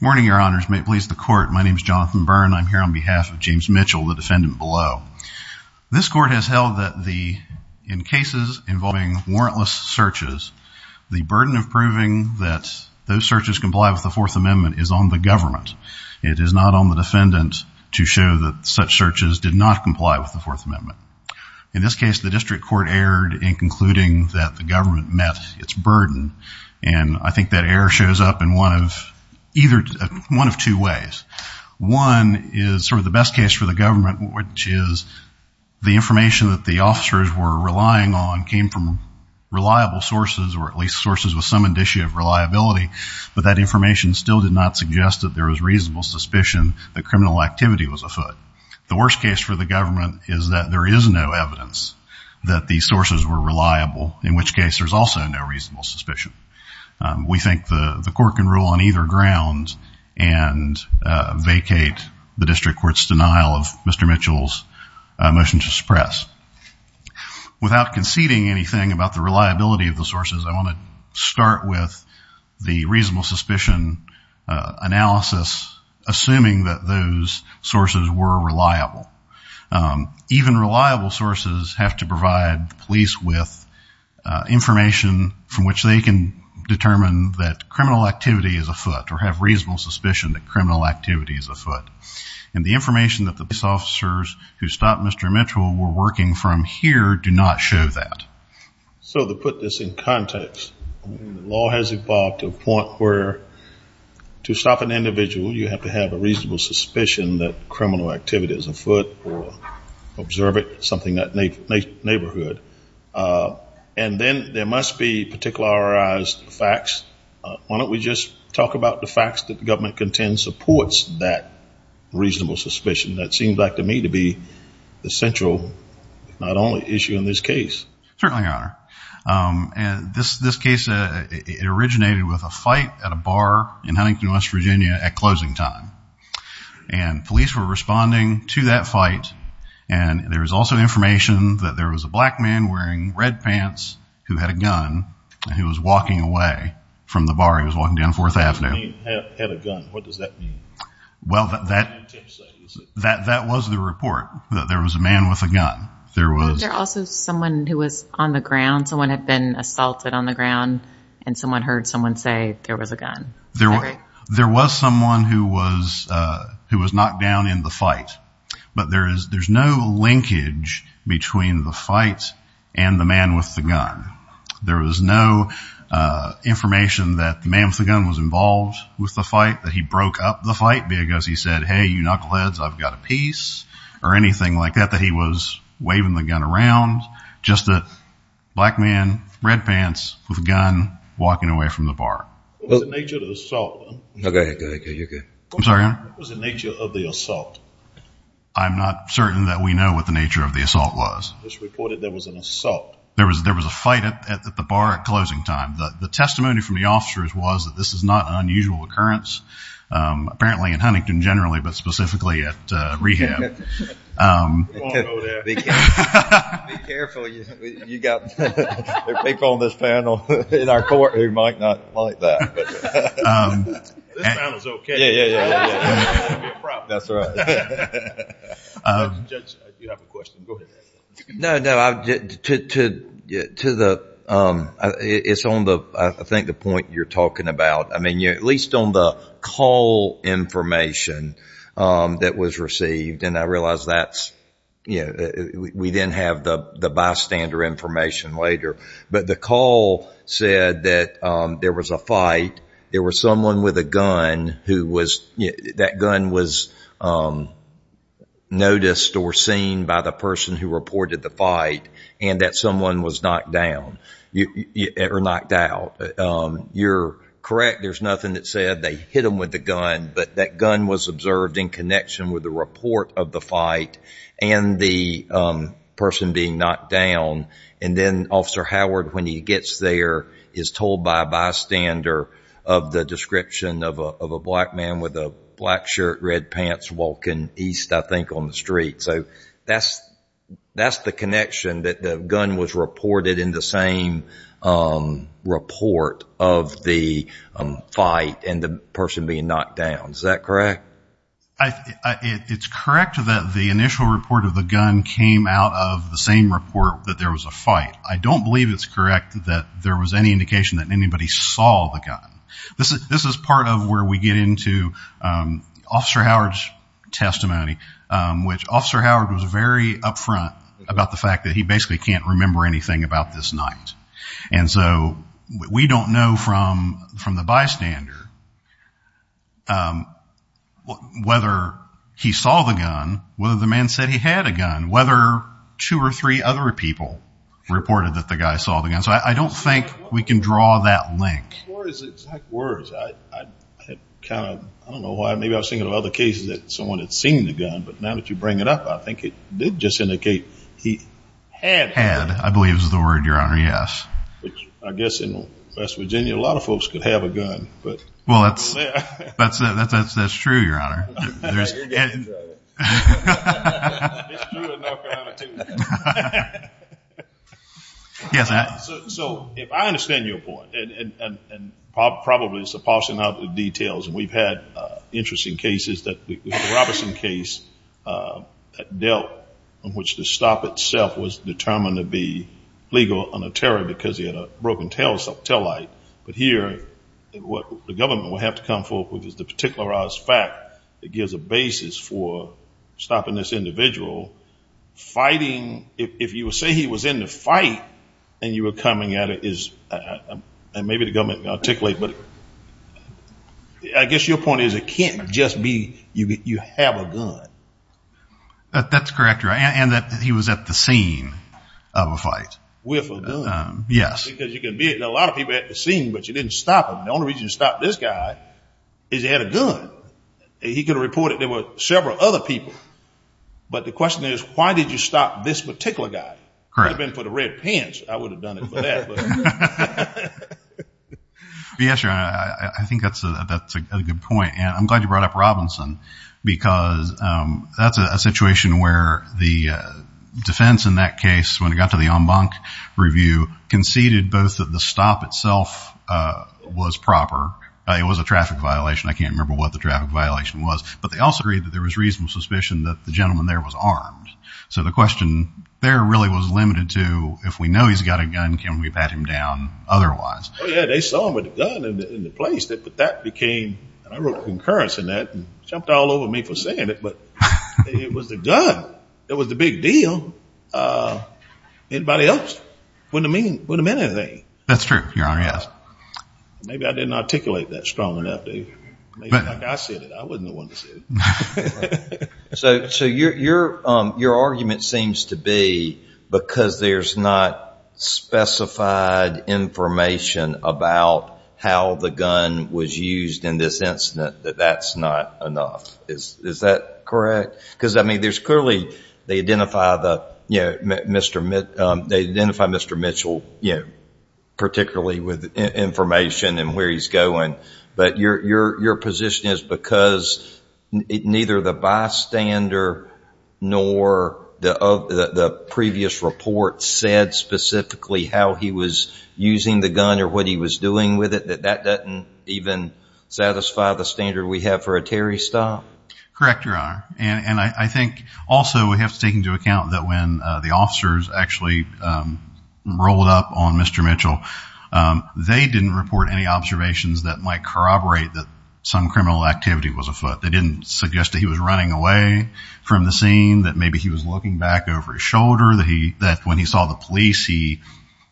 morning your honors may it please the court my name is Jonathan Byrne I'm here on behalf of James Mitchell the defendant below this court has held that the in cases involving warrantless searches the burden of proving that those searches comply with the Fourth Amendment is on the government it is not on the defendant to show that such searches did not comply with the Fourth Amendment in this case the district court erred in concluding that the government met its burden and I think that error shows up in one of either one of two ways one is sort of the best case for the government which is the information that the officers were relying on came from reliable sources or at least sources with some indicia of reliability but that information still did not suggest that there is reasonable suspicion the criminal activity was a foot the worst case for the government is that there is no evidence that the sources were reliable in which case there's also no reasonable suspicion we think the the court can rule on either grounds and vacate the district court's without conceding anything about the reliability of the sources I want to start with the reasonable suspicion analysis assuming that those sources were reliable even reliable sources have to provide police with information from which they can determine that criminal activity is afoot or have reasonable suspicion that criminal activity is afoot and the information that the we're working from here do not show that so to put this in context law has evolved to a point where to stop an individual you have to have a reasonable suspicion that criminal activity is afoot or observe it something that neighborhood and then there must be particularized facts why don't we just talk about the facts that the government contends supports that reasonable suspicion that seems like to me to be the central not only issue in this case certainly are and this this case it originated with a fight at a bar in Huntington West Virginia at closing time and police were responding to that fight and there was also information that there was a black man wearing red pants who had a gun and he was walking away from the bar he was walking down 4th well that that that that was the report that there was a man with a gun there was also someone who was on the ground someone had been assaulted on the ground and someone heard someone say there was a gun there were there was someone who was who was knocked down in the fight but there is there's no linkage between the fights and the man with the gun there was no information that the man was involved with the fight that he broke up the fight because he said hey you knuckleheads I've got a piece or anything like that that he was waving the gun around just a black man red pants with a gun walking away from the bar I'm not certain that we know what the nature of the assault was there was there was a fight at the bar at closing time that the testimony from the officers was that this is not an unusual occurrence apparently in Huntington generally but specifically at rehab be careful you got people on this panel in our court who might not like that it's on the I think the point you're talking about I mean you're at least on the call information that was received and I realize that's you know we didn't have the the bystander information later but the call said that there was a man with a gun who was that gun was noticed or seen by the person who reported the fight and that someone was knocked down or knocked out you're correct there's nothing that said they hit him with the gun but that gun was observed in connection with the report of the fight and the person being knocked down and then officer Howard when he gets there is told by a description of a black man with a black shirt red pants walking east I think on the street so that's that's the connection that the gun was reported in the same report of the fight and the person being knocked down is that correct it's correct that the initial report of the gun came out of the same report that there was a fight I don't believe it's correct that there was any that anybody saw the gun this is this is part of where we get into officer Howard's testimony which officer Howard was very upfront about the fact that he basically can't remember anything about this night and so we don't know from from the bystander whether he saw the gun whether the man said he had a gun whether two or three other people reported that the guy saw the gun so I don't think we can draw that link I don't know why maybe I was thinking of other cases that someone had seen the gun but now that you bring it up I think it did just indicate he had had I believe is the word your honor yes I guess in West Virginia a lot of folks could have a gun but well that's that's that's that's true your honor yes so if I understand your point and probably supposing out the details and we've had interesting cases that the Robertson case that dealt in which the stop itself was determined to be legal on a terror because he had a broken tail so tell light but here what the government will have to come forth with is the particularized fact that gives a basis for stopping this individual fighting if you say he was in the fight and you were coming at it is and maybe the government articulate but I guess your point is it can't just be you get you have a good but that's correct right and that he was at the scene of a fight yes because you can be a lot of people at the scene but you didn't stop him the only reason to stop this guy is he had a good he could have reported there were several other people but the question is why did you stop this particular guy correct been for the red pants I would have done it yes I think that's a good point and I'm glad you brought up Robinson because that's a situation where the defense in that case when it review conceded both of the stop itself was proper it was a traffic violation I can't remember what the traffic violation was but they also agreed that there was reasonable suspicion that the gentleman there was armed so the question there really was limited to if we know he's got a gun can we pat him down otherwise yeah they saw him with a gun in the place that but that became I wrote concurrence in that jumped all over me for saying it but it was the gun it was the big deal anybody else wouldn't mean would have anything that's true your honor yes maybe I didn't articulate that strong enough to so so your your argument seems to be because there's not specified information about how the gun was used in this incident that that's not enough is is that correct because I mean there's clearly they identify the you know mr. mitt they identify mr. Mitchell you know particularly with information and where he's going but your your position is because it neither the bystander nor the of the previous report said specifically how he was using the gun or what he was doing with it that that doesn't even satisfy the standard we have for a Terry stop correct your honor and and I think also we have to take into account that when the officers actually rolled up on mr. Mitchell they didn't report any observations that might corroborate that some criminal activity was afoot they didn't suggest that he was running away from the scene that maybe he was looking back over his shoulder that he that when he saw the police he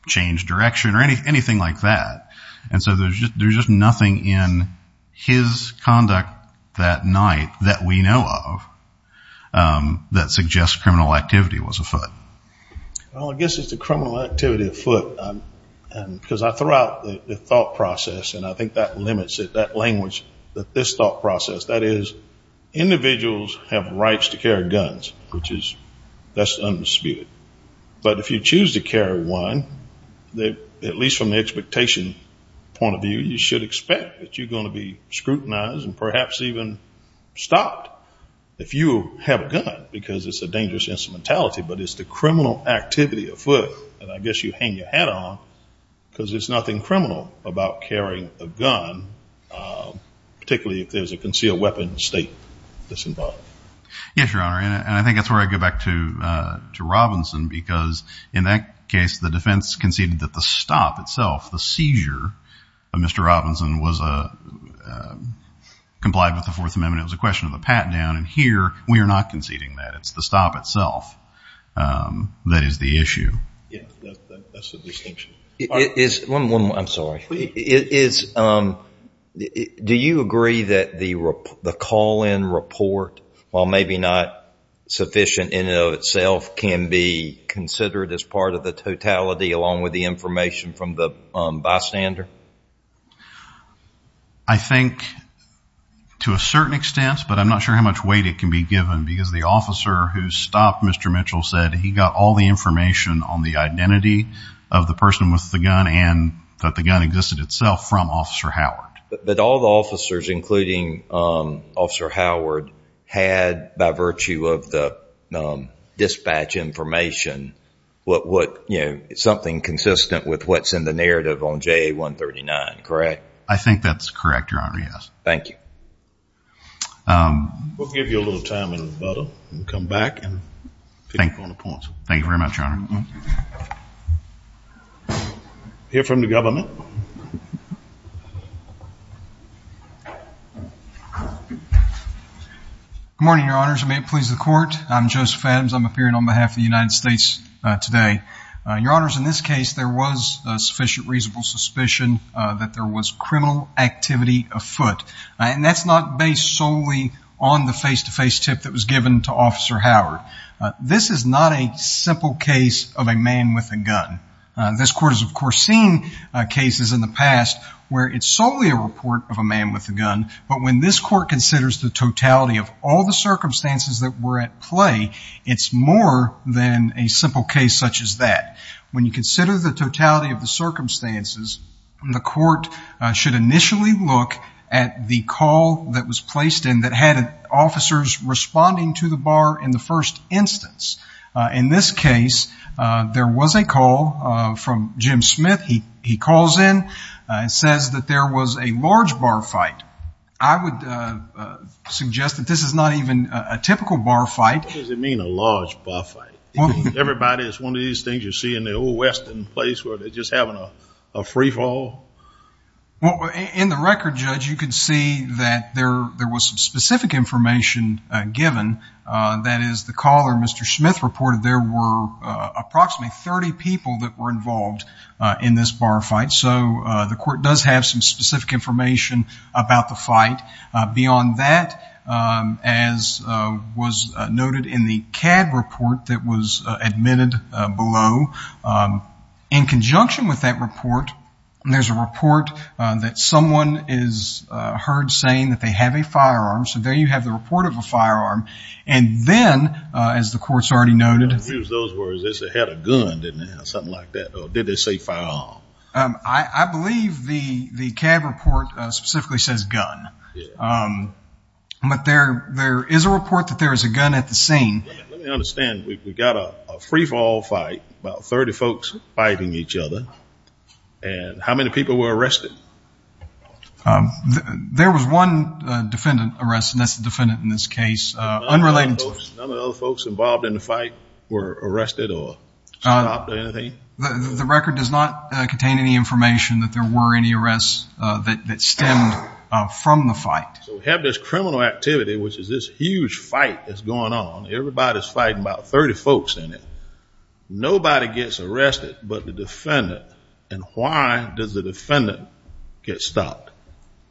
changed direction or any anything like that and so there's just there's just nothing in his conduct that night that we know of that suggests criminal activity was afoot well I guess it's a criminal activity afoot because I threw out the thought process and I think that limits it that language that this thought process that is individuals have rights to carry guns which is that's undisputed but if you choose to carry one they at least from the expectation point of view you should expect that you're gonna be scrutinized and perhaps even stopped if you have a gun because it's a dangerous instrumentality but it's the criminal activity afoot and I guess you hang your hat on because it's nothing criminal about carrying a gun particularly if there's a concealed weapon state this involved yes your honor and I think that's where I go back to to Robinson because in that case the defense conceded that the stop itself the Robinson was a complied with the Fourth Amendment was a question of the pat-down and here we are not conceding that it's the stop itself that is the issue it is one one I'm sorry it is do you agree that the the call-in report while maybe not sufficient in and of itself can be considered as part of the totality along with the information from the bystander I think to a certain extent but I'm not sure how much weight it can be given because the officer who stopped Mr. Mitchell said he got all the information on the identity of the person with the gun and that the gun existed itself from officer Howard but all the officers including officer Howard had by virtue of the dispatch information what would something consistent with what's in the narrative on j139 correct I think that's correct your honor yes thank you we'll give you a little time and come back and thank you very much here from the government morning your honors may it please the court I'm Joseph Adams I'm appearing on behalf of the United States today your honors in this case there was a sufficient reasonable suspicion that there was criminal activity afoot and that's not based solely on the face-to-face tip that was given to officer Howard this is not a simple case of a man with a gun this court is of course seen cases in the past where it's solely a report of a man with a gun but when this court considers the totality of all the circumstances that were at it's more than a simple case such as that when you consider the totality of the circumstances the court should initially look at the call that was placed in that had officers responding to the bar in the first instance in this case there was a call from Jim Smith he he calls in and says that there was a large bar fight I would suggest that this is not even a typical bar fight does it mean a large buffet everybody is one of these things you see in the old Western place where they're just having a free fall well in the record judge you can see that there there was some specific information given that is the caller mr. Smith reported there were approximately 30 people that were involved in this bar fight so the court does have some specific information about the fight beyond that as was noted in the CAD report that was admitted below in conjunction with that report and there's a report that someone is heard saying that they have a firearm so there you have the report of a firearm and then as the courts already noted those words this had a gun didn't they say firearm I believe the the CAD report specifically says gun but there there is a report that there is a gun at the scene understand we've got a free for all fight about 30 folks fighting each other and how many people were arrested there was one defendant arrested that's the defendant in this unrelated folks involved in the fight were arrested or the record does not contain any information that there were any arrests that stemmed from the fight have this criminal activity which is this huge fight that's going on everybody's fighting about 30 folks in it nobody gets arrested but the defendant and why does the defendant get stopped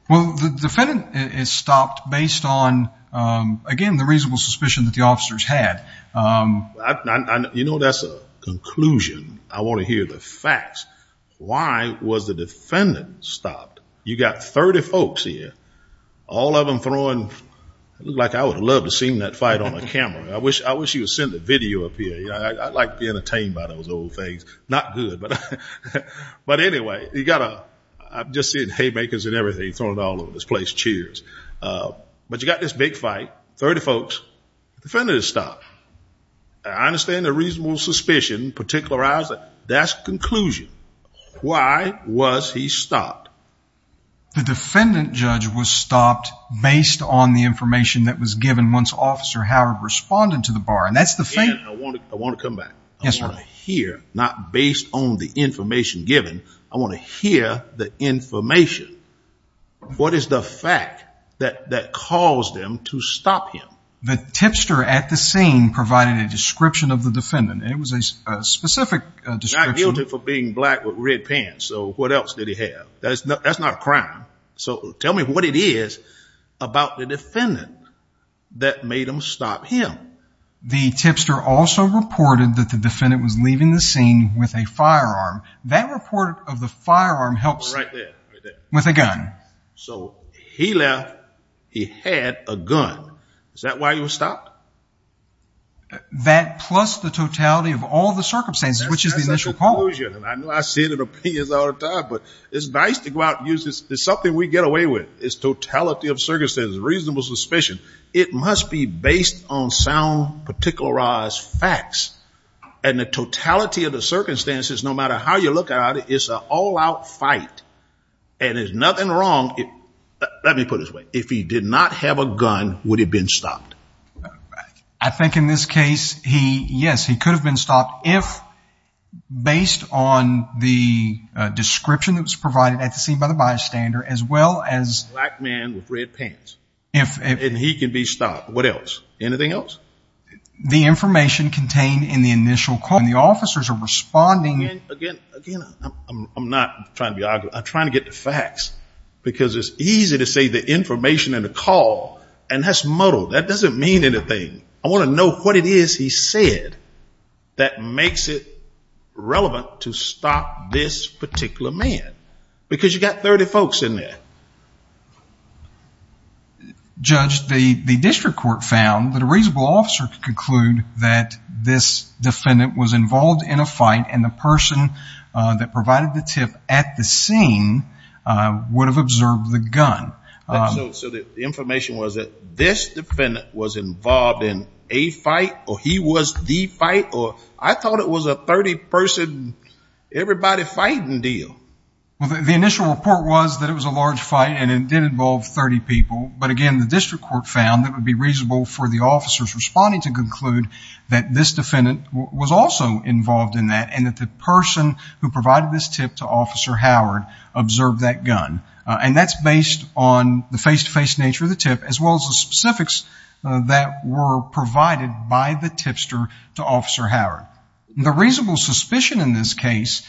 well the defendant is stopped based on again the reasonable suspicion that the officers had you know that's a conclusion I want to hear the facts why was the defendant stopped you got 30 folks here all of them throwing look like I would love to seen that fight on a camera I wish I wish you would send the video up here yeah I'd like to be entertained by those old things not good but but anyway you gotta I've just seen and everything thrown all over this place cheers but you got this big fight 30 folks defended stop I understand the reasonable suspicion particular eyes that's conclusion why was he stopped the defendant judge was stopped based on the information that was given once officer Howard responded to the bar and that's the thing I want to come back yes right here not based on the information given I want to hear the information what is the fact that that caused them to stop him the tipster at the scene provided a description of the defendant it was a specific description for being black with red pants so what else did he have that's not that's not a crime so tell me what it is about the defendant that made him stop him the tipster also reported that the defendant was leaving the scene with a firearm that report of the firearm helps right there with a gun so he left he had a gun is that why you stopped that plus the totality of all the circumstances which is the initial pollution and I know I see that opinions all the time but it's nice to go out use this there's something we get away with its totality of circumstances reasonable suspicion it must be based on particularized facts and the totality of the circumstances no matter how you look at it it's an all-out fight and there's nothing wrong let me put his way if he did not have a gun would have been stopped I think in this case he yes he could have been stopped if based on the description that was provided at the scene by the bystander as well as man with red pants if he can be stopped what else anything else the information contained in the initial call the officers are responding again I'm not trying to argue I'm trying to get the facts because it's easy to say the information and a call and that's muddled that doesn't mean anything I want to know what it is he said that makes it relevant to stop this particular man because you got 30 folks in there judge the district court found that a reasonable officer could conclude that this defendant was involved in a fight and the person that provided the tip at the scene would have observed the gun so the information was that this defendant was involved in a fight or he was the fight or I thought it was a 30 person everybody fighting deal well the initial report was that it was a large fight and it did involve 30 people but again the district court found that would be reasonable for the officers responding to conclude that this defendant was also involved in that and that the person who provided this tip to officer Howard observed that gun and that's based on the face-to-face nature of the tip as well as the specifics that were provided by the tipster to officer Howard the reasonable suspicion in this case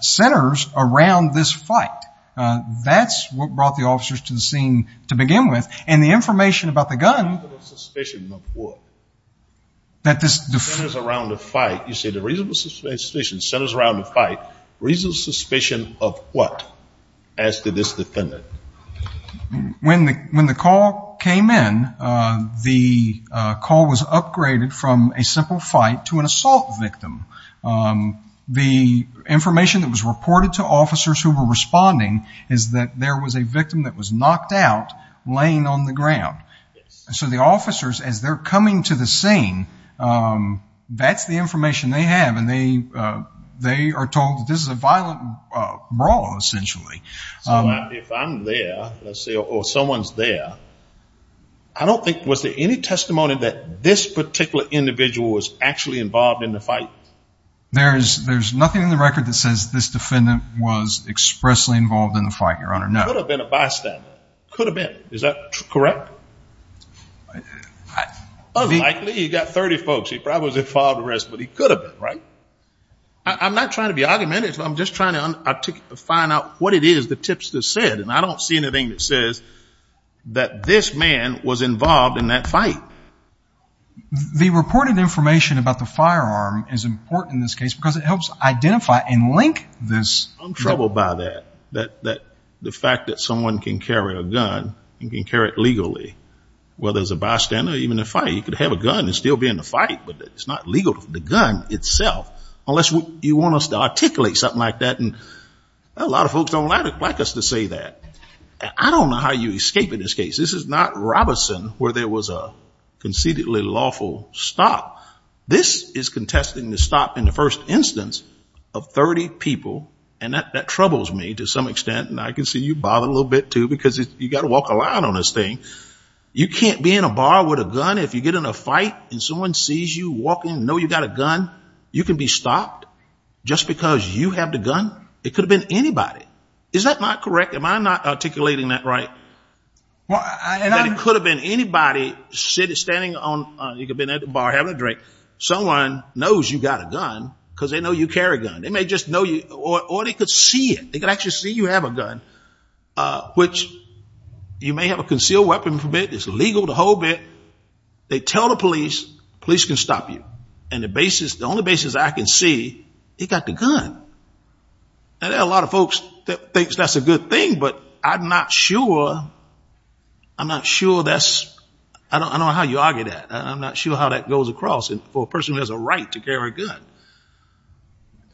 centers around this fight that's what brought the officers to the scene to begin with and the information about the gun that this is around the fight you see the reasonable suspicion centers around the fight reason suspicion of what as to this defendant when the when the call came in the call was upgraded from a simple fight to an assault victim the information that was reported to officers who were responding is that there was a victim that was knocked out laying on the ground so the officers as they're coming to the scene that's the information they have and they they are told this is a violent brawl essentially if I'm there let's say or someone's there I don't think was there any testimony that this particular individual was actually involved in the fight there is there's nothing in the record that says this defendant was expressly involved in the fight your not have been a bystander could have been is that correct he got 30 folks he probably filed arrest but he could have been right I'm not trying to be argumentative I'm just trying to find out what it is the tipster said and I don't see anything that says that this man was involved in that fight the reported information about the firearm is important in this case helps identify and link this trouble by that that that the fact that someone can carry a gun and can carry it legally well there's a bystander even if I you could have a gun and still be in the fight but it's not legal to the gun itself unless you want us to articulate something like that and a lot of folks don't like us to say that I don't know how you escape in this case this is not Robeson where there was a conceitedly lawful stop this is contesting the stop in the first instance of 30 people and that that troubles me to some extent and I can see you bother a little bit too because you got to walk a lot on this thing you can't be in a bar with a gun if you get in a fight and someone sees you walking know you got a gun you can be stopped just because you have the gun it could have been anybody is that not correct am I not articulating that right well and I could have been anybody sitting standing on you could been at having a drink someone knows you got a gun because they know you carry gun they may just know you or they could see it they can actually see you have a gun which you may have a concealed weapon for bit it's legal to hold it they tell the police police can stop you and the basis the only basis I can see he got the gun and there are a lot of folks that thinks that's a good thing but I'm not sure I'm not sure that's I don't know how you argue that I'm not sure how that goes across it for a person who has a right to carry a gun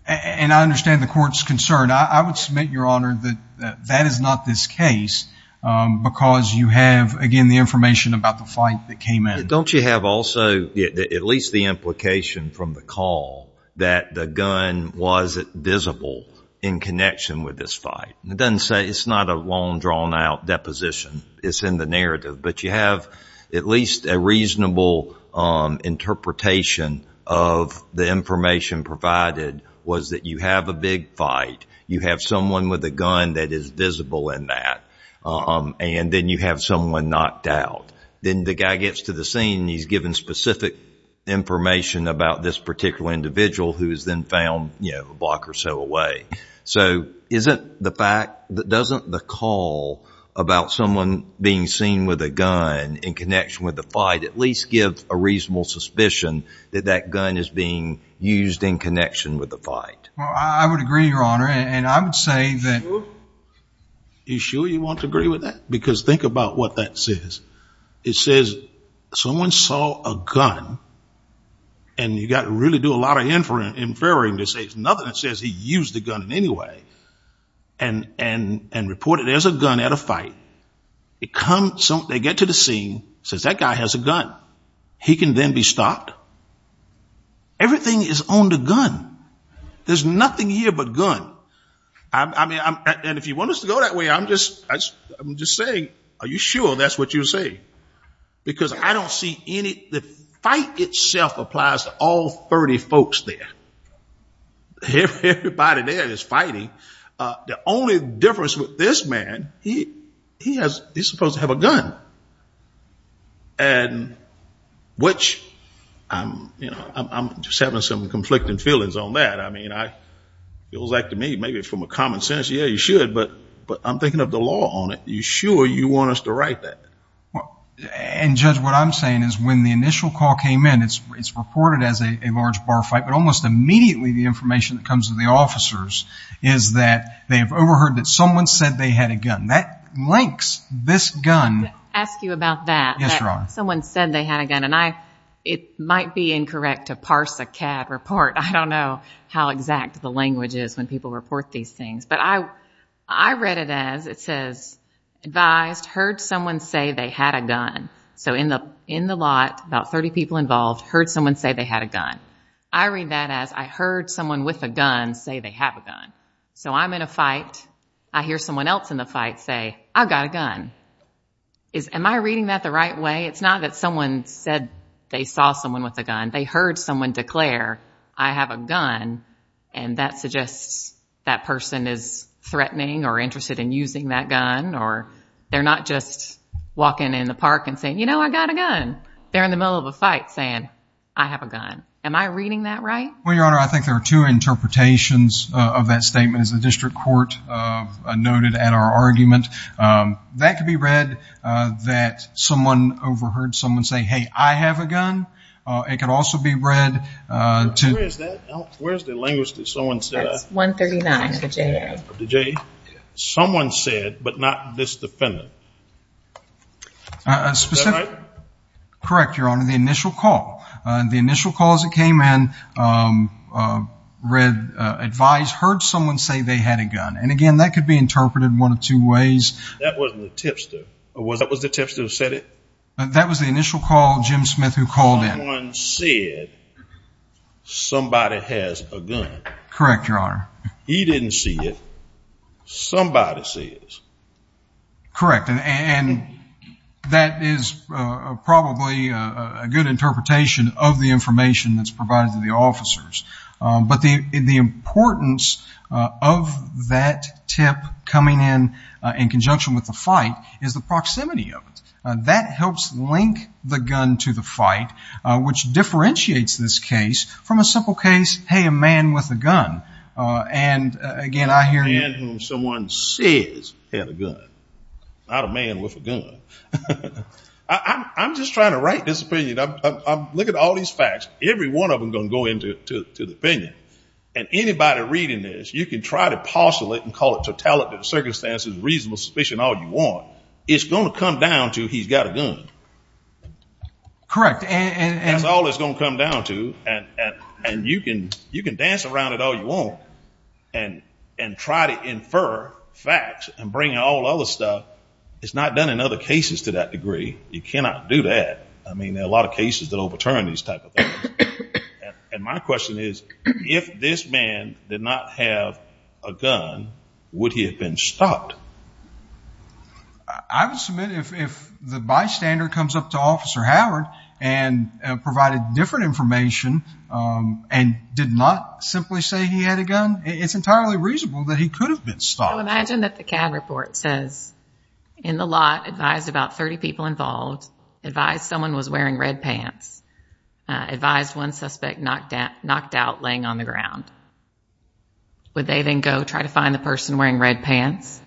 and I understand the court's concern I would submit your honor that that is not this case because you have again the information about the fight that came in don't you have also at least the implication from the call that the gun was it visible in connection with this fight it doesn't say it's not a long drawn-out deposition it's in the narrative but you have at least a interpretation of the information provided was that you have a big fight you have someone with a gun that is visible in that and then you have someone knocked out then the guy gets to the scene he's given specific information about this particular individual who is then found you know a block or so away so isn't the fact that doesn't the call about someone being seen with a gun in connection with the fight at least give a reasonable suspicion that that gun is being used in connection with the fight I would agree your honor and I would say that you sure you want to agree with that because think about what that says it says someone saw a gun and you got to really do a lot of inferring to say it's nothing that says he used the gun in and and and report it as a gun at a fight it comes so they get to the scene says that guy has a gun he can then be stopped everything is on the gun there's nothing here but gun I mean I'm and if you want us to go that way I'm just I'm just saying are you sure that's what you say because I don't see any the fight itself applies to all 30 folks there everybody there is fighting the only difference with this man he he has he's supposed to have a gun and which I'm you know I'm just having some conflicting feelings on that I mean I it was like to me maybe from a common sense yeah you should but but I'm thinking of the law on it you sure you want us to write that well and judge what I'm saying is when the initial call came in it's it's reported as a large bar fight but almost immediately the information that comes to the officers is that they have overheard that someone said they had a gun that links this gun ask you about that yes Ron someone said they had a gun and I it might be incorrect to parse a CAD report I don't know how exact the language is when people report these things but I I read it as it says advised heard someone say they had a gun so in the in the lot about 30 people involved heard someone say they had a gun I read that as I heard someone with a gun say they have a gun so I'm in a fight I hear someone else in the fight say I've got a gun is am I reading that the right way it's not that someone said they saw someone with a gun they heard someone declare I have a gun and that suggests that person is threatening or saying you know I got a gun they're in the middle of a fight saying I have a gun am I reading that right well your honor I think there are two interpretations of that statement as the district court noted at our argument that could be read that someone overheard someone say hey I have a gun it could also be read where's the language that someone says 139 the J someone said but not this defendant a specific correct your honor the initial call the initial calls that came in read advised heard someone say they had a gun and again that could be interpreted one of two ways that wasn't a tipster or was that was the tipster who said it that was the initial call Jim Smith who called in one said somebody has a gun correct your honor he didn't see it somebody says correct and that is probably a good interpretation of the information that's provided to the officers but the importance of that tip coming in in conjunction with the fight is the proximity of it that helps link the gun to the fight which differentiates this case from a simple case hey a man with a gun and again I hear someone says I'm just trying to write this opinion I'm looking at all these facts every one of them gonna go into to the opinion and anybody reading this you can try to parcel it and call it to tell it to the circumstances reasonable suspicion all you want it's gonna come down to he's got a gun correct and that's all it's gonna come down to and and you can you can dance around it all you want and and try to infer facts and bring all other stuff it's not done in other cases to that degree you cannot do that I mean there are a lot of cases that overturn these type of and my question is if this man did not have a gun would he have been stopped I would submit if the bystander comes up to officer Howard and provided different information and did not simply say he had a gun it's entirely reasonable that he could have been stopped imagine that the cab report says in the lot advised about 30 people involved advised someone was wearing red pants advised one suspect knocked out knocked out laying on the ground would they then go try to find the person wearing red pants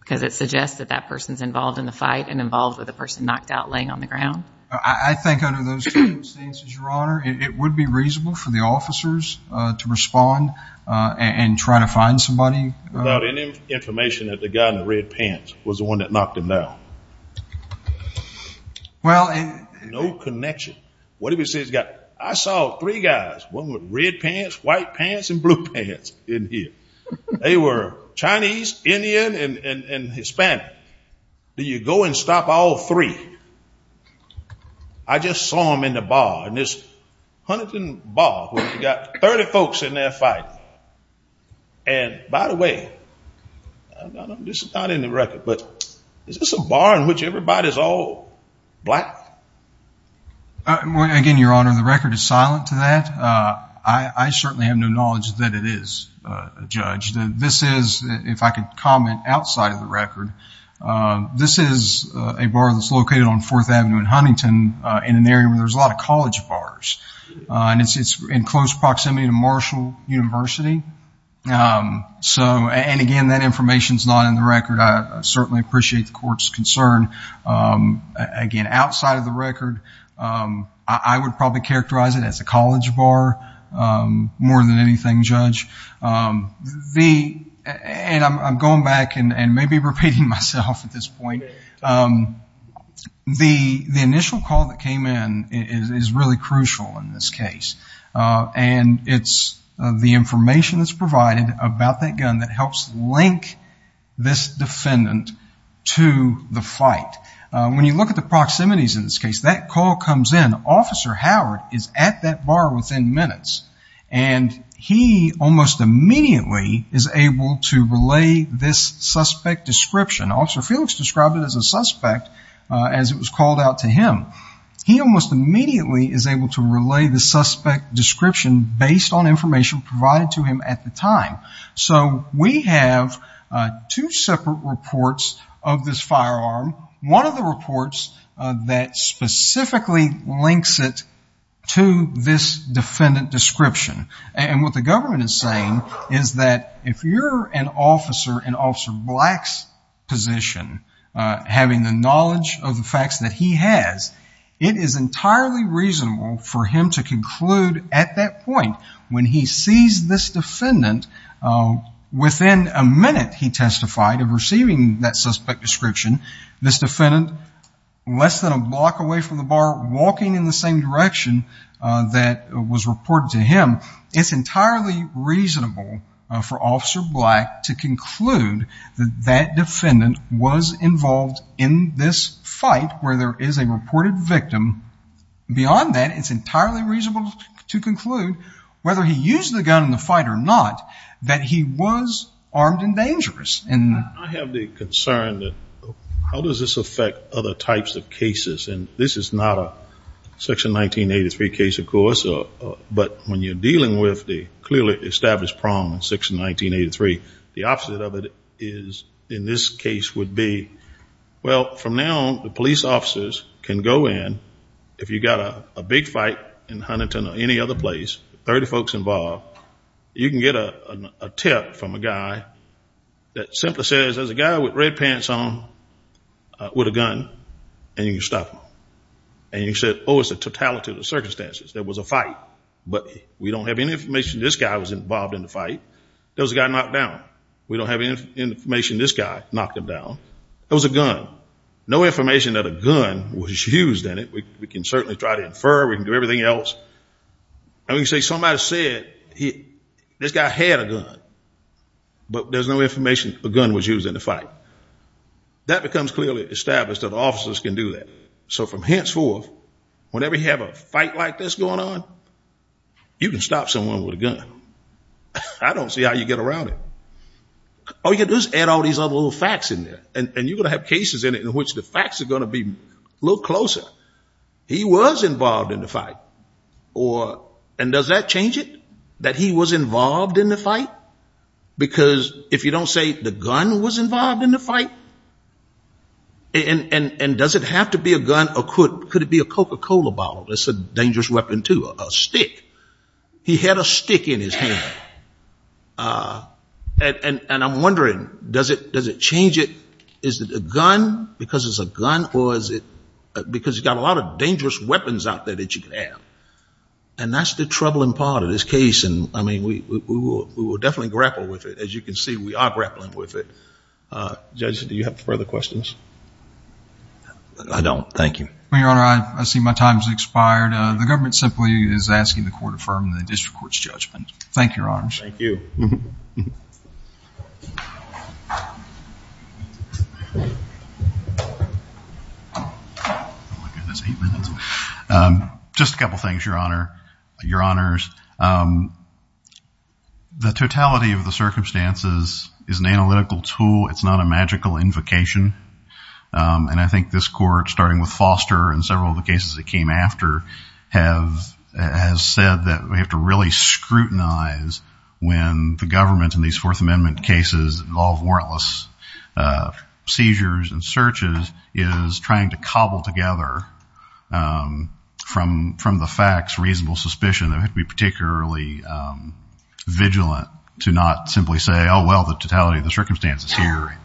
because it suggests that that person's involved in the fight and involved with the person knocked out laying on the it would be reasonable for the officers to respond and try to find somebody without any information that the guy in the red pants was the one that knocked him down well no connection what if he says got I saw three guys one with red pants white pants and blue pants in here they were Chinese Indian and Hispanic do you go and stop all three I just saw him in the bar and this Huntington bar we've got 30 folks in their fight and by the way this is not in the record but this is a bar in which everybody's all black again your honor the record is silent to that I certainly have no knowledge that it is a judge that this if I could comment outside of the record this is a bar that's located on 4th Avenue in Huntington in an area where there's a lot of college bars and it's it's in close proximity to Marshall University so and again that information's not in the record I certainly appreciate the court's concern again outside of the record I would probably characterize it as a thing judge the and I'm going back and and maybe repeating myself at this point the the initial call that came in is really crucial in this case and it's the information that's provided about that gun that helps link this defendant to the fight when you look at the proximities in this case that call comes in officer Howard is at that bar within minutes and he almost immediately is able to relay this suspect description officer Felix described it as a suspect as it was called out to him he almost immediately is able to relay the suspect description based on information provided to him at the time so we have two separate reports of this firearm one of the reports that specifically links it to this defendant description and what the government is saying is that if you're an officer and also blacks position having the knowledge of the facts that he has it is entirely reasonable for him to conclude at that point when he sees this defendant within a minute he testified of receiving that suspect description this defendant less than a block away from the bar walking in the same direction that was reported to him it's entirely reasonable for officer black to conclude that that defendant was involved in this fight where there is a reported victim beyond that it's entirely reasonable to conclude whether he used the gun in the fight or not that he was armed and dangerous and I have the concern that how does this affect other types of cases and this is not a section 1983 case of course but when you're dealing with the clearly established problem section 1983 the opposite of it is in this case would be well from now the police officers can go in if you got a big fight in Huntington or any other place 30 folks involved you can get a tip from a guy that simply says as a guy with red pants on with a gun and you stop and you said oh it's a totality of the circumstances there was a fight but we don't have any information this guy was involved in the fight there was a guy knocked down we don't have any information this guy knocked him down it was a gun no information that a gun was used in it we can certainly try to infer we can do everything else and we say somebody said this guy had a gun but there's no information a gun was used in the fight that becomes clearly established that officers can do that so from henceforth whenever you have a fight like this going on you can stop someone with a gun I don't see how you get around it oh you just add all these other little facts in there and you're gonna have cases in it in which the facts are gonna be a little closer he was involved in the fight or and does that change it that he was involved in the fight because if you don't say the gun was involved in the fight and and and does it have to be a gun or could could it be a coca-cola bottle that's a dangerous weapon to a stick he had a stick in his hand and and and I'm wondering does it does it change it is it a gun because it's a gun or is it because he's got a lot of dangerous weapons out there that you can have and that's the troubling part of this case and I mean we will definitely grapple with it as you can see we are grappling with it judges do you have further questions I don't thank you your honor I see my time has expired the government simply is asking the court affirmed the district courts judgment thank your arms just a couple things your honor your honors the totality of the circumstances is an analytical tool it's not a magical invocation and I think this court starting with foster and several of the cases that came after have has said that we have to really scrutinize when the government in these Fourth Amendment cases all warrantless seizures and searches is trying to cobble together from from the facts reasonable suspicion that we particularly vigilant to not simply say oh well the totality of the circumstances here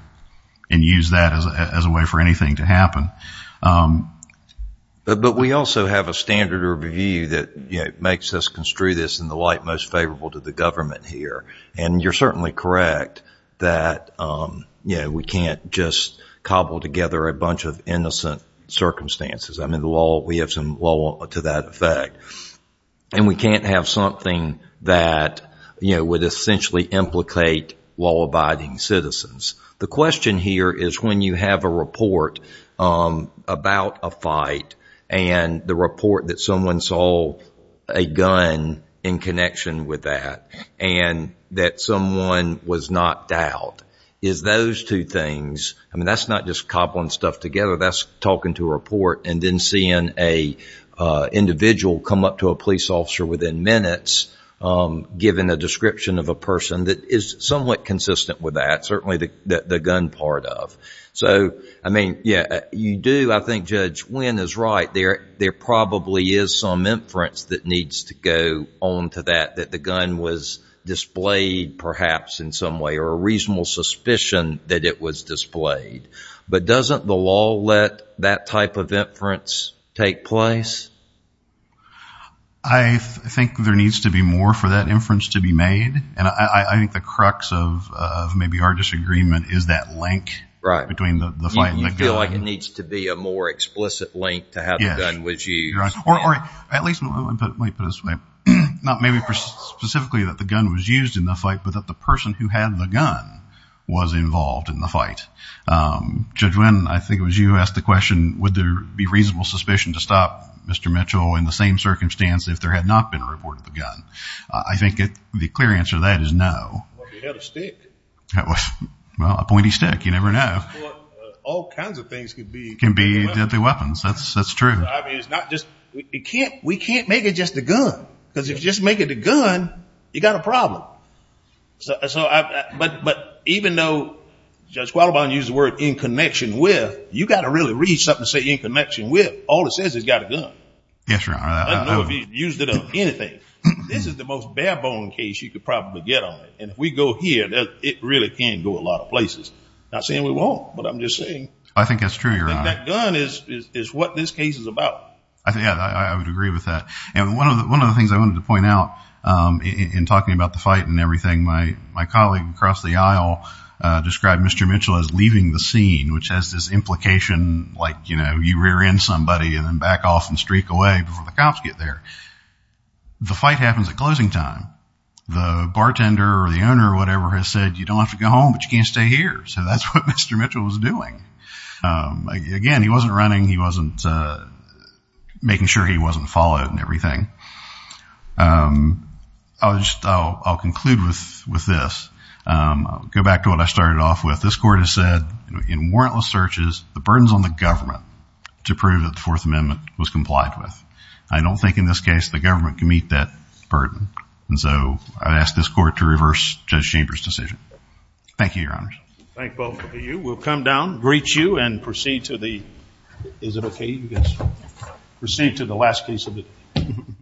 and use that as a way for anything to happen but we also have a standard review that makes us construe this in the light most favorable to the government here and you're certainly correct that we can't just cobble together a bunch of innocent circumstances I'm in the wall we have some law to that effect and we can't have something that you know would essentially implicate law-abiding citizens the question here is when you have a report about a fight and the report that someone saw a gun in connection with that and that someone was not doubt is those two things and that's not just cobbling stuff together that's talking to a report and then seeing a individual come up to a police officer within minutes given a description of a person that is somewhat consistent with that certainly the gun part of so I mean yeah you do I think judge when is right there there probably is some inference that needs to go on to that that the gun was displayed perhaps in some way or a reasonable suspicion that it was displayed but doesn't the law let that type of inference take place I think there needs to be more for that inference to be made and I think the crux of maybe our disagreement is that link right between the you feel like it needs to be a more explicit link to have a gun with you or at least not maybe specifically that the gun was used in the fight but that the person who had the gun was involved in the fight judge when I think it was you asked the question would there be reasonable suspicion to stop mr. Mitchell in the same circumstance if there had not been a report of the gun I think it the clear answer that is no stick that was well a pointy stick you never know all kinds of things can be can be deadly weapons that's that's true it's not just we can't we can't make it just a gun because if you just make it a gun you got a problem so I but but even though just well bond use the word in connection with you got to really read something to say in connection with all it says it's got a gun yes you used it on anything this is the most bare-bone case you could probably get on it and if we go here that it really can go a lot of places not saying we won't but I'm just saying I think that's true your gun is what this case is about I think I would agree with that and one of the one of the things I wanted to point out in talking about the fight and everything my my colleague across the aisle described mr. Mitchell as leaving the scene which has this implication like you know you rear in somebody and then back off and streak away before the cops get there the fight happens at closing time the bartender or the owner or whatever has said you don't have to go home but you can't stay here so that's what mr. Mitchell was doing again he wasn't running he wasn't making sure he wasn't followed and everything I'll just I'll conclude with with this go back to what I started off with this court has said in warrantless searches the burdens on the government to prove that the Fourth Amendment was complied with I don't think in this case the government can meet that burden and so I asked this court to reverse judge Chambers decision thank you your honor you will come down greet you and proceed to the is it okay you guys proceed to the last piece of it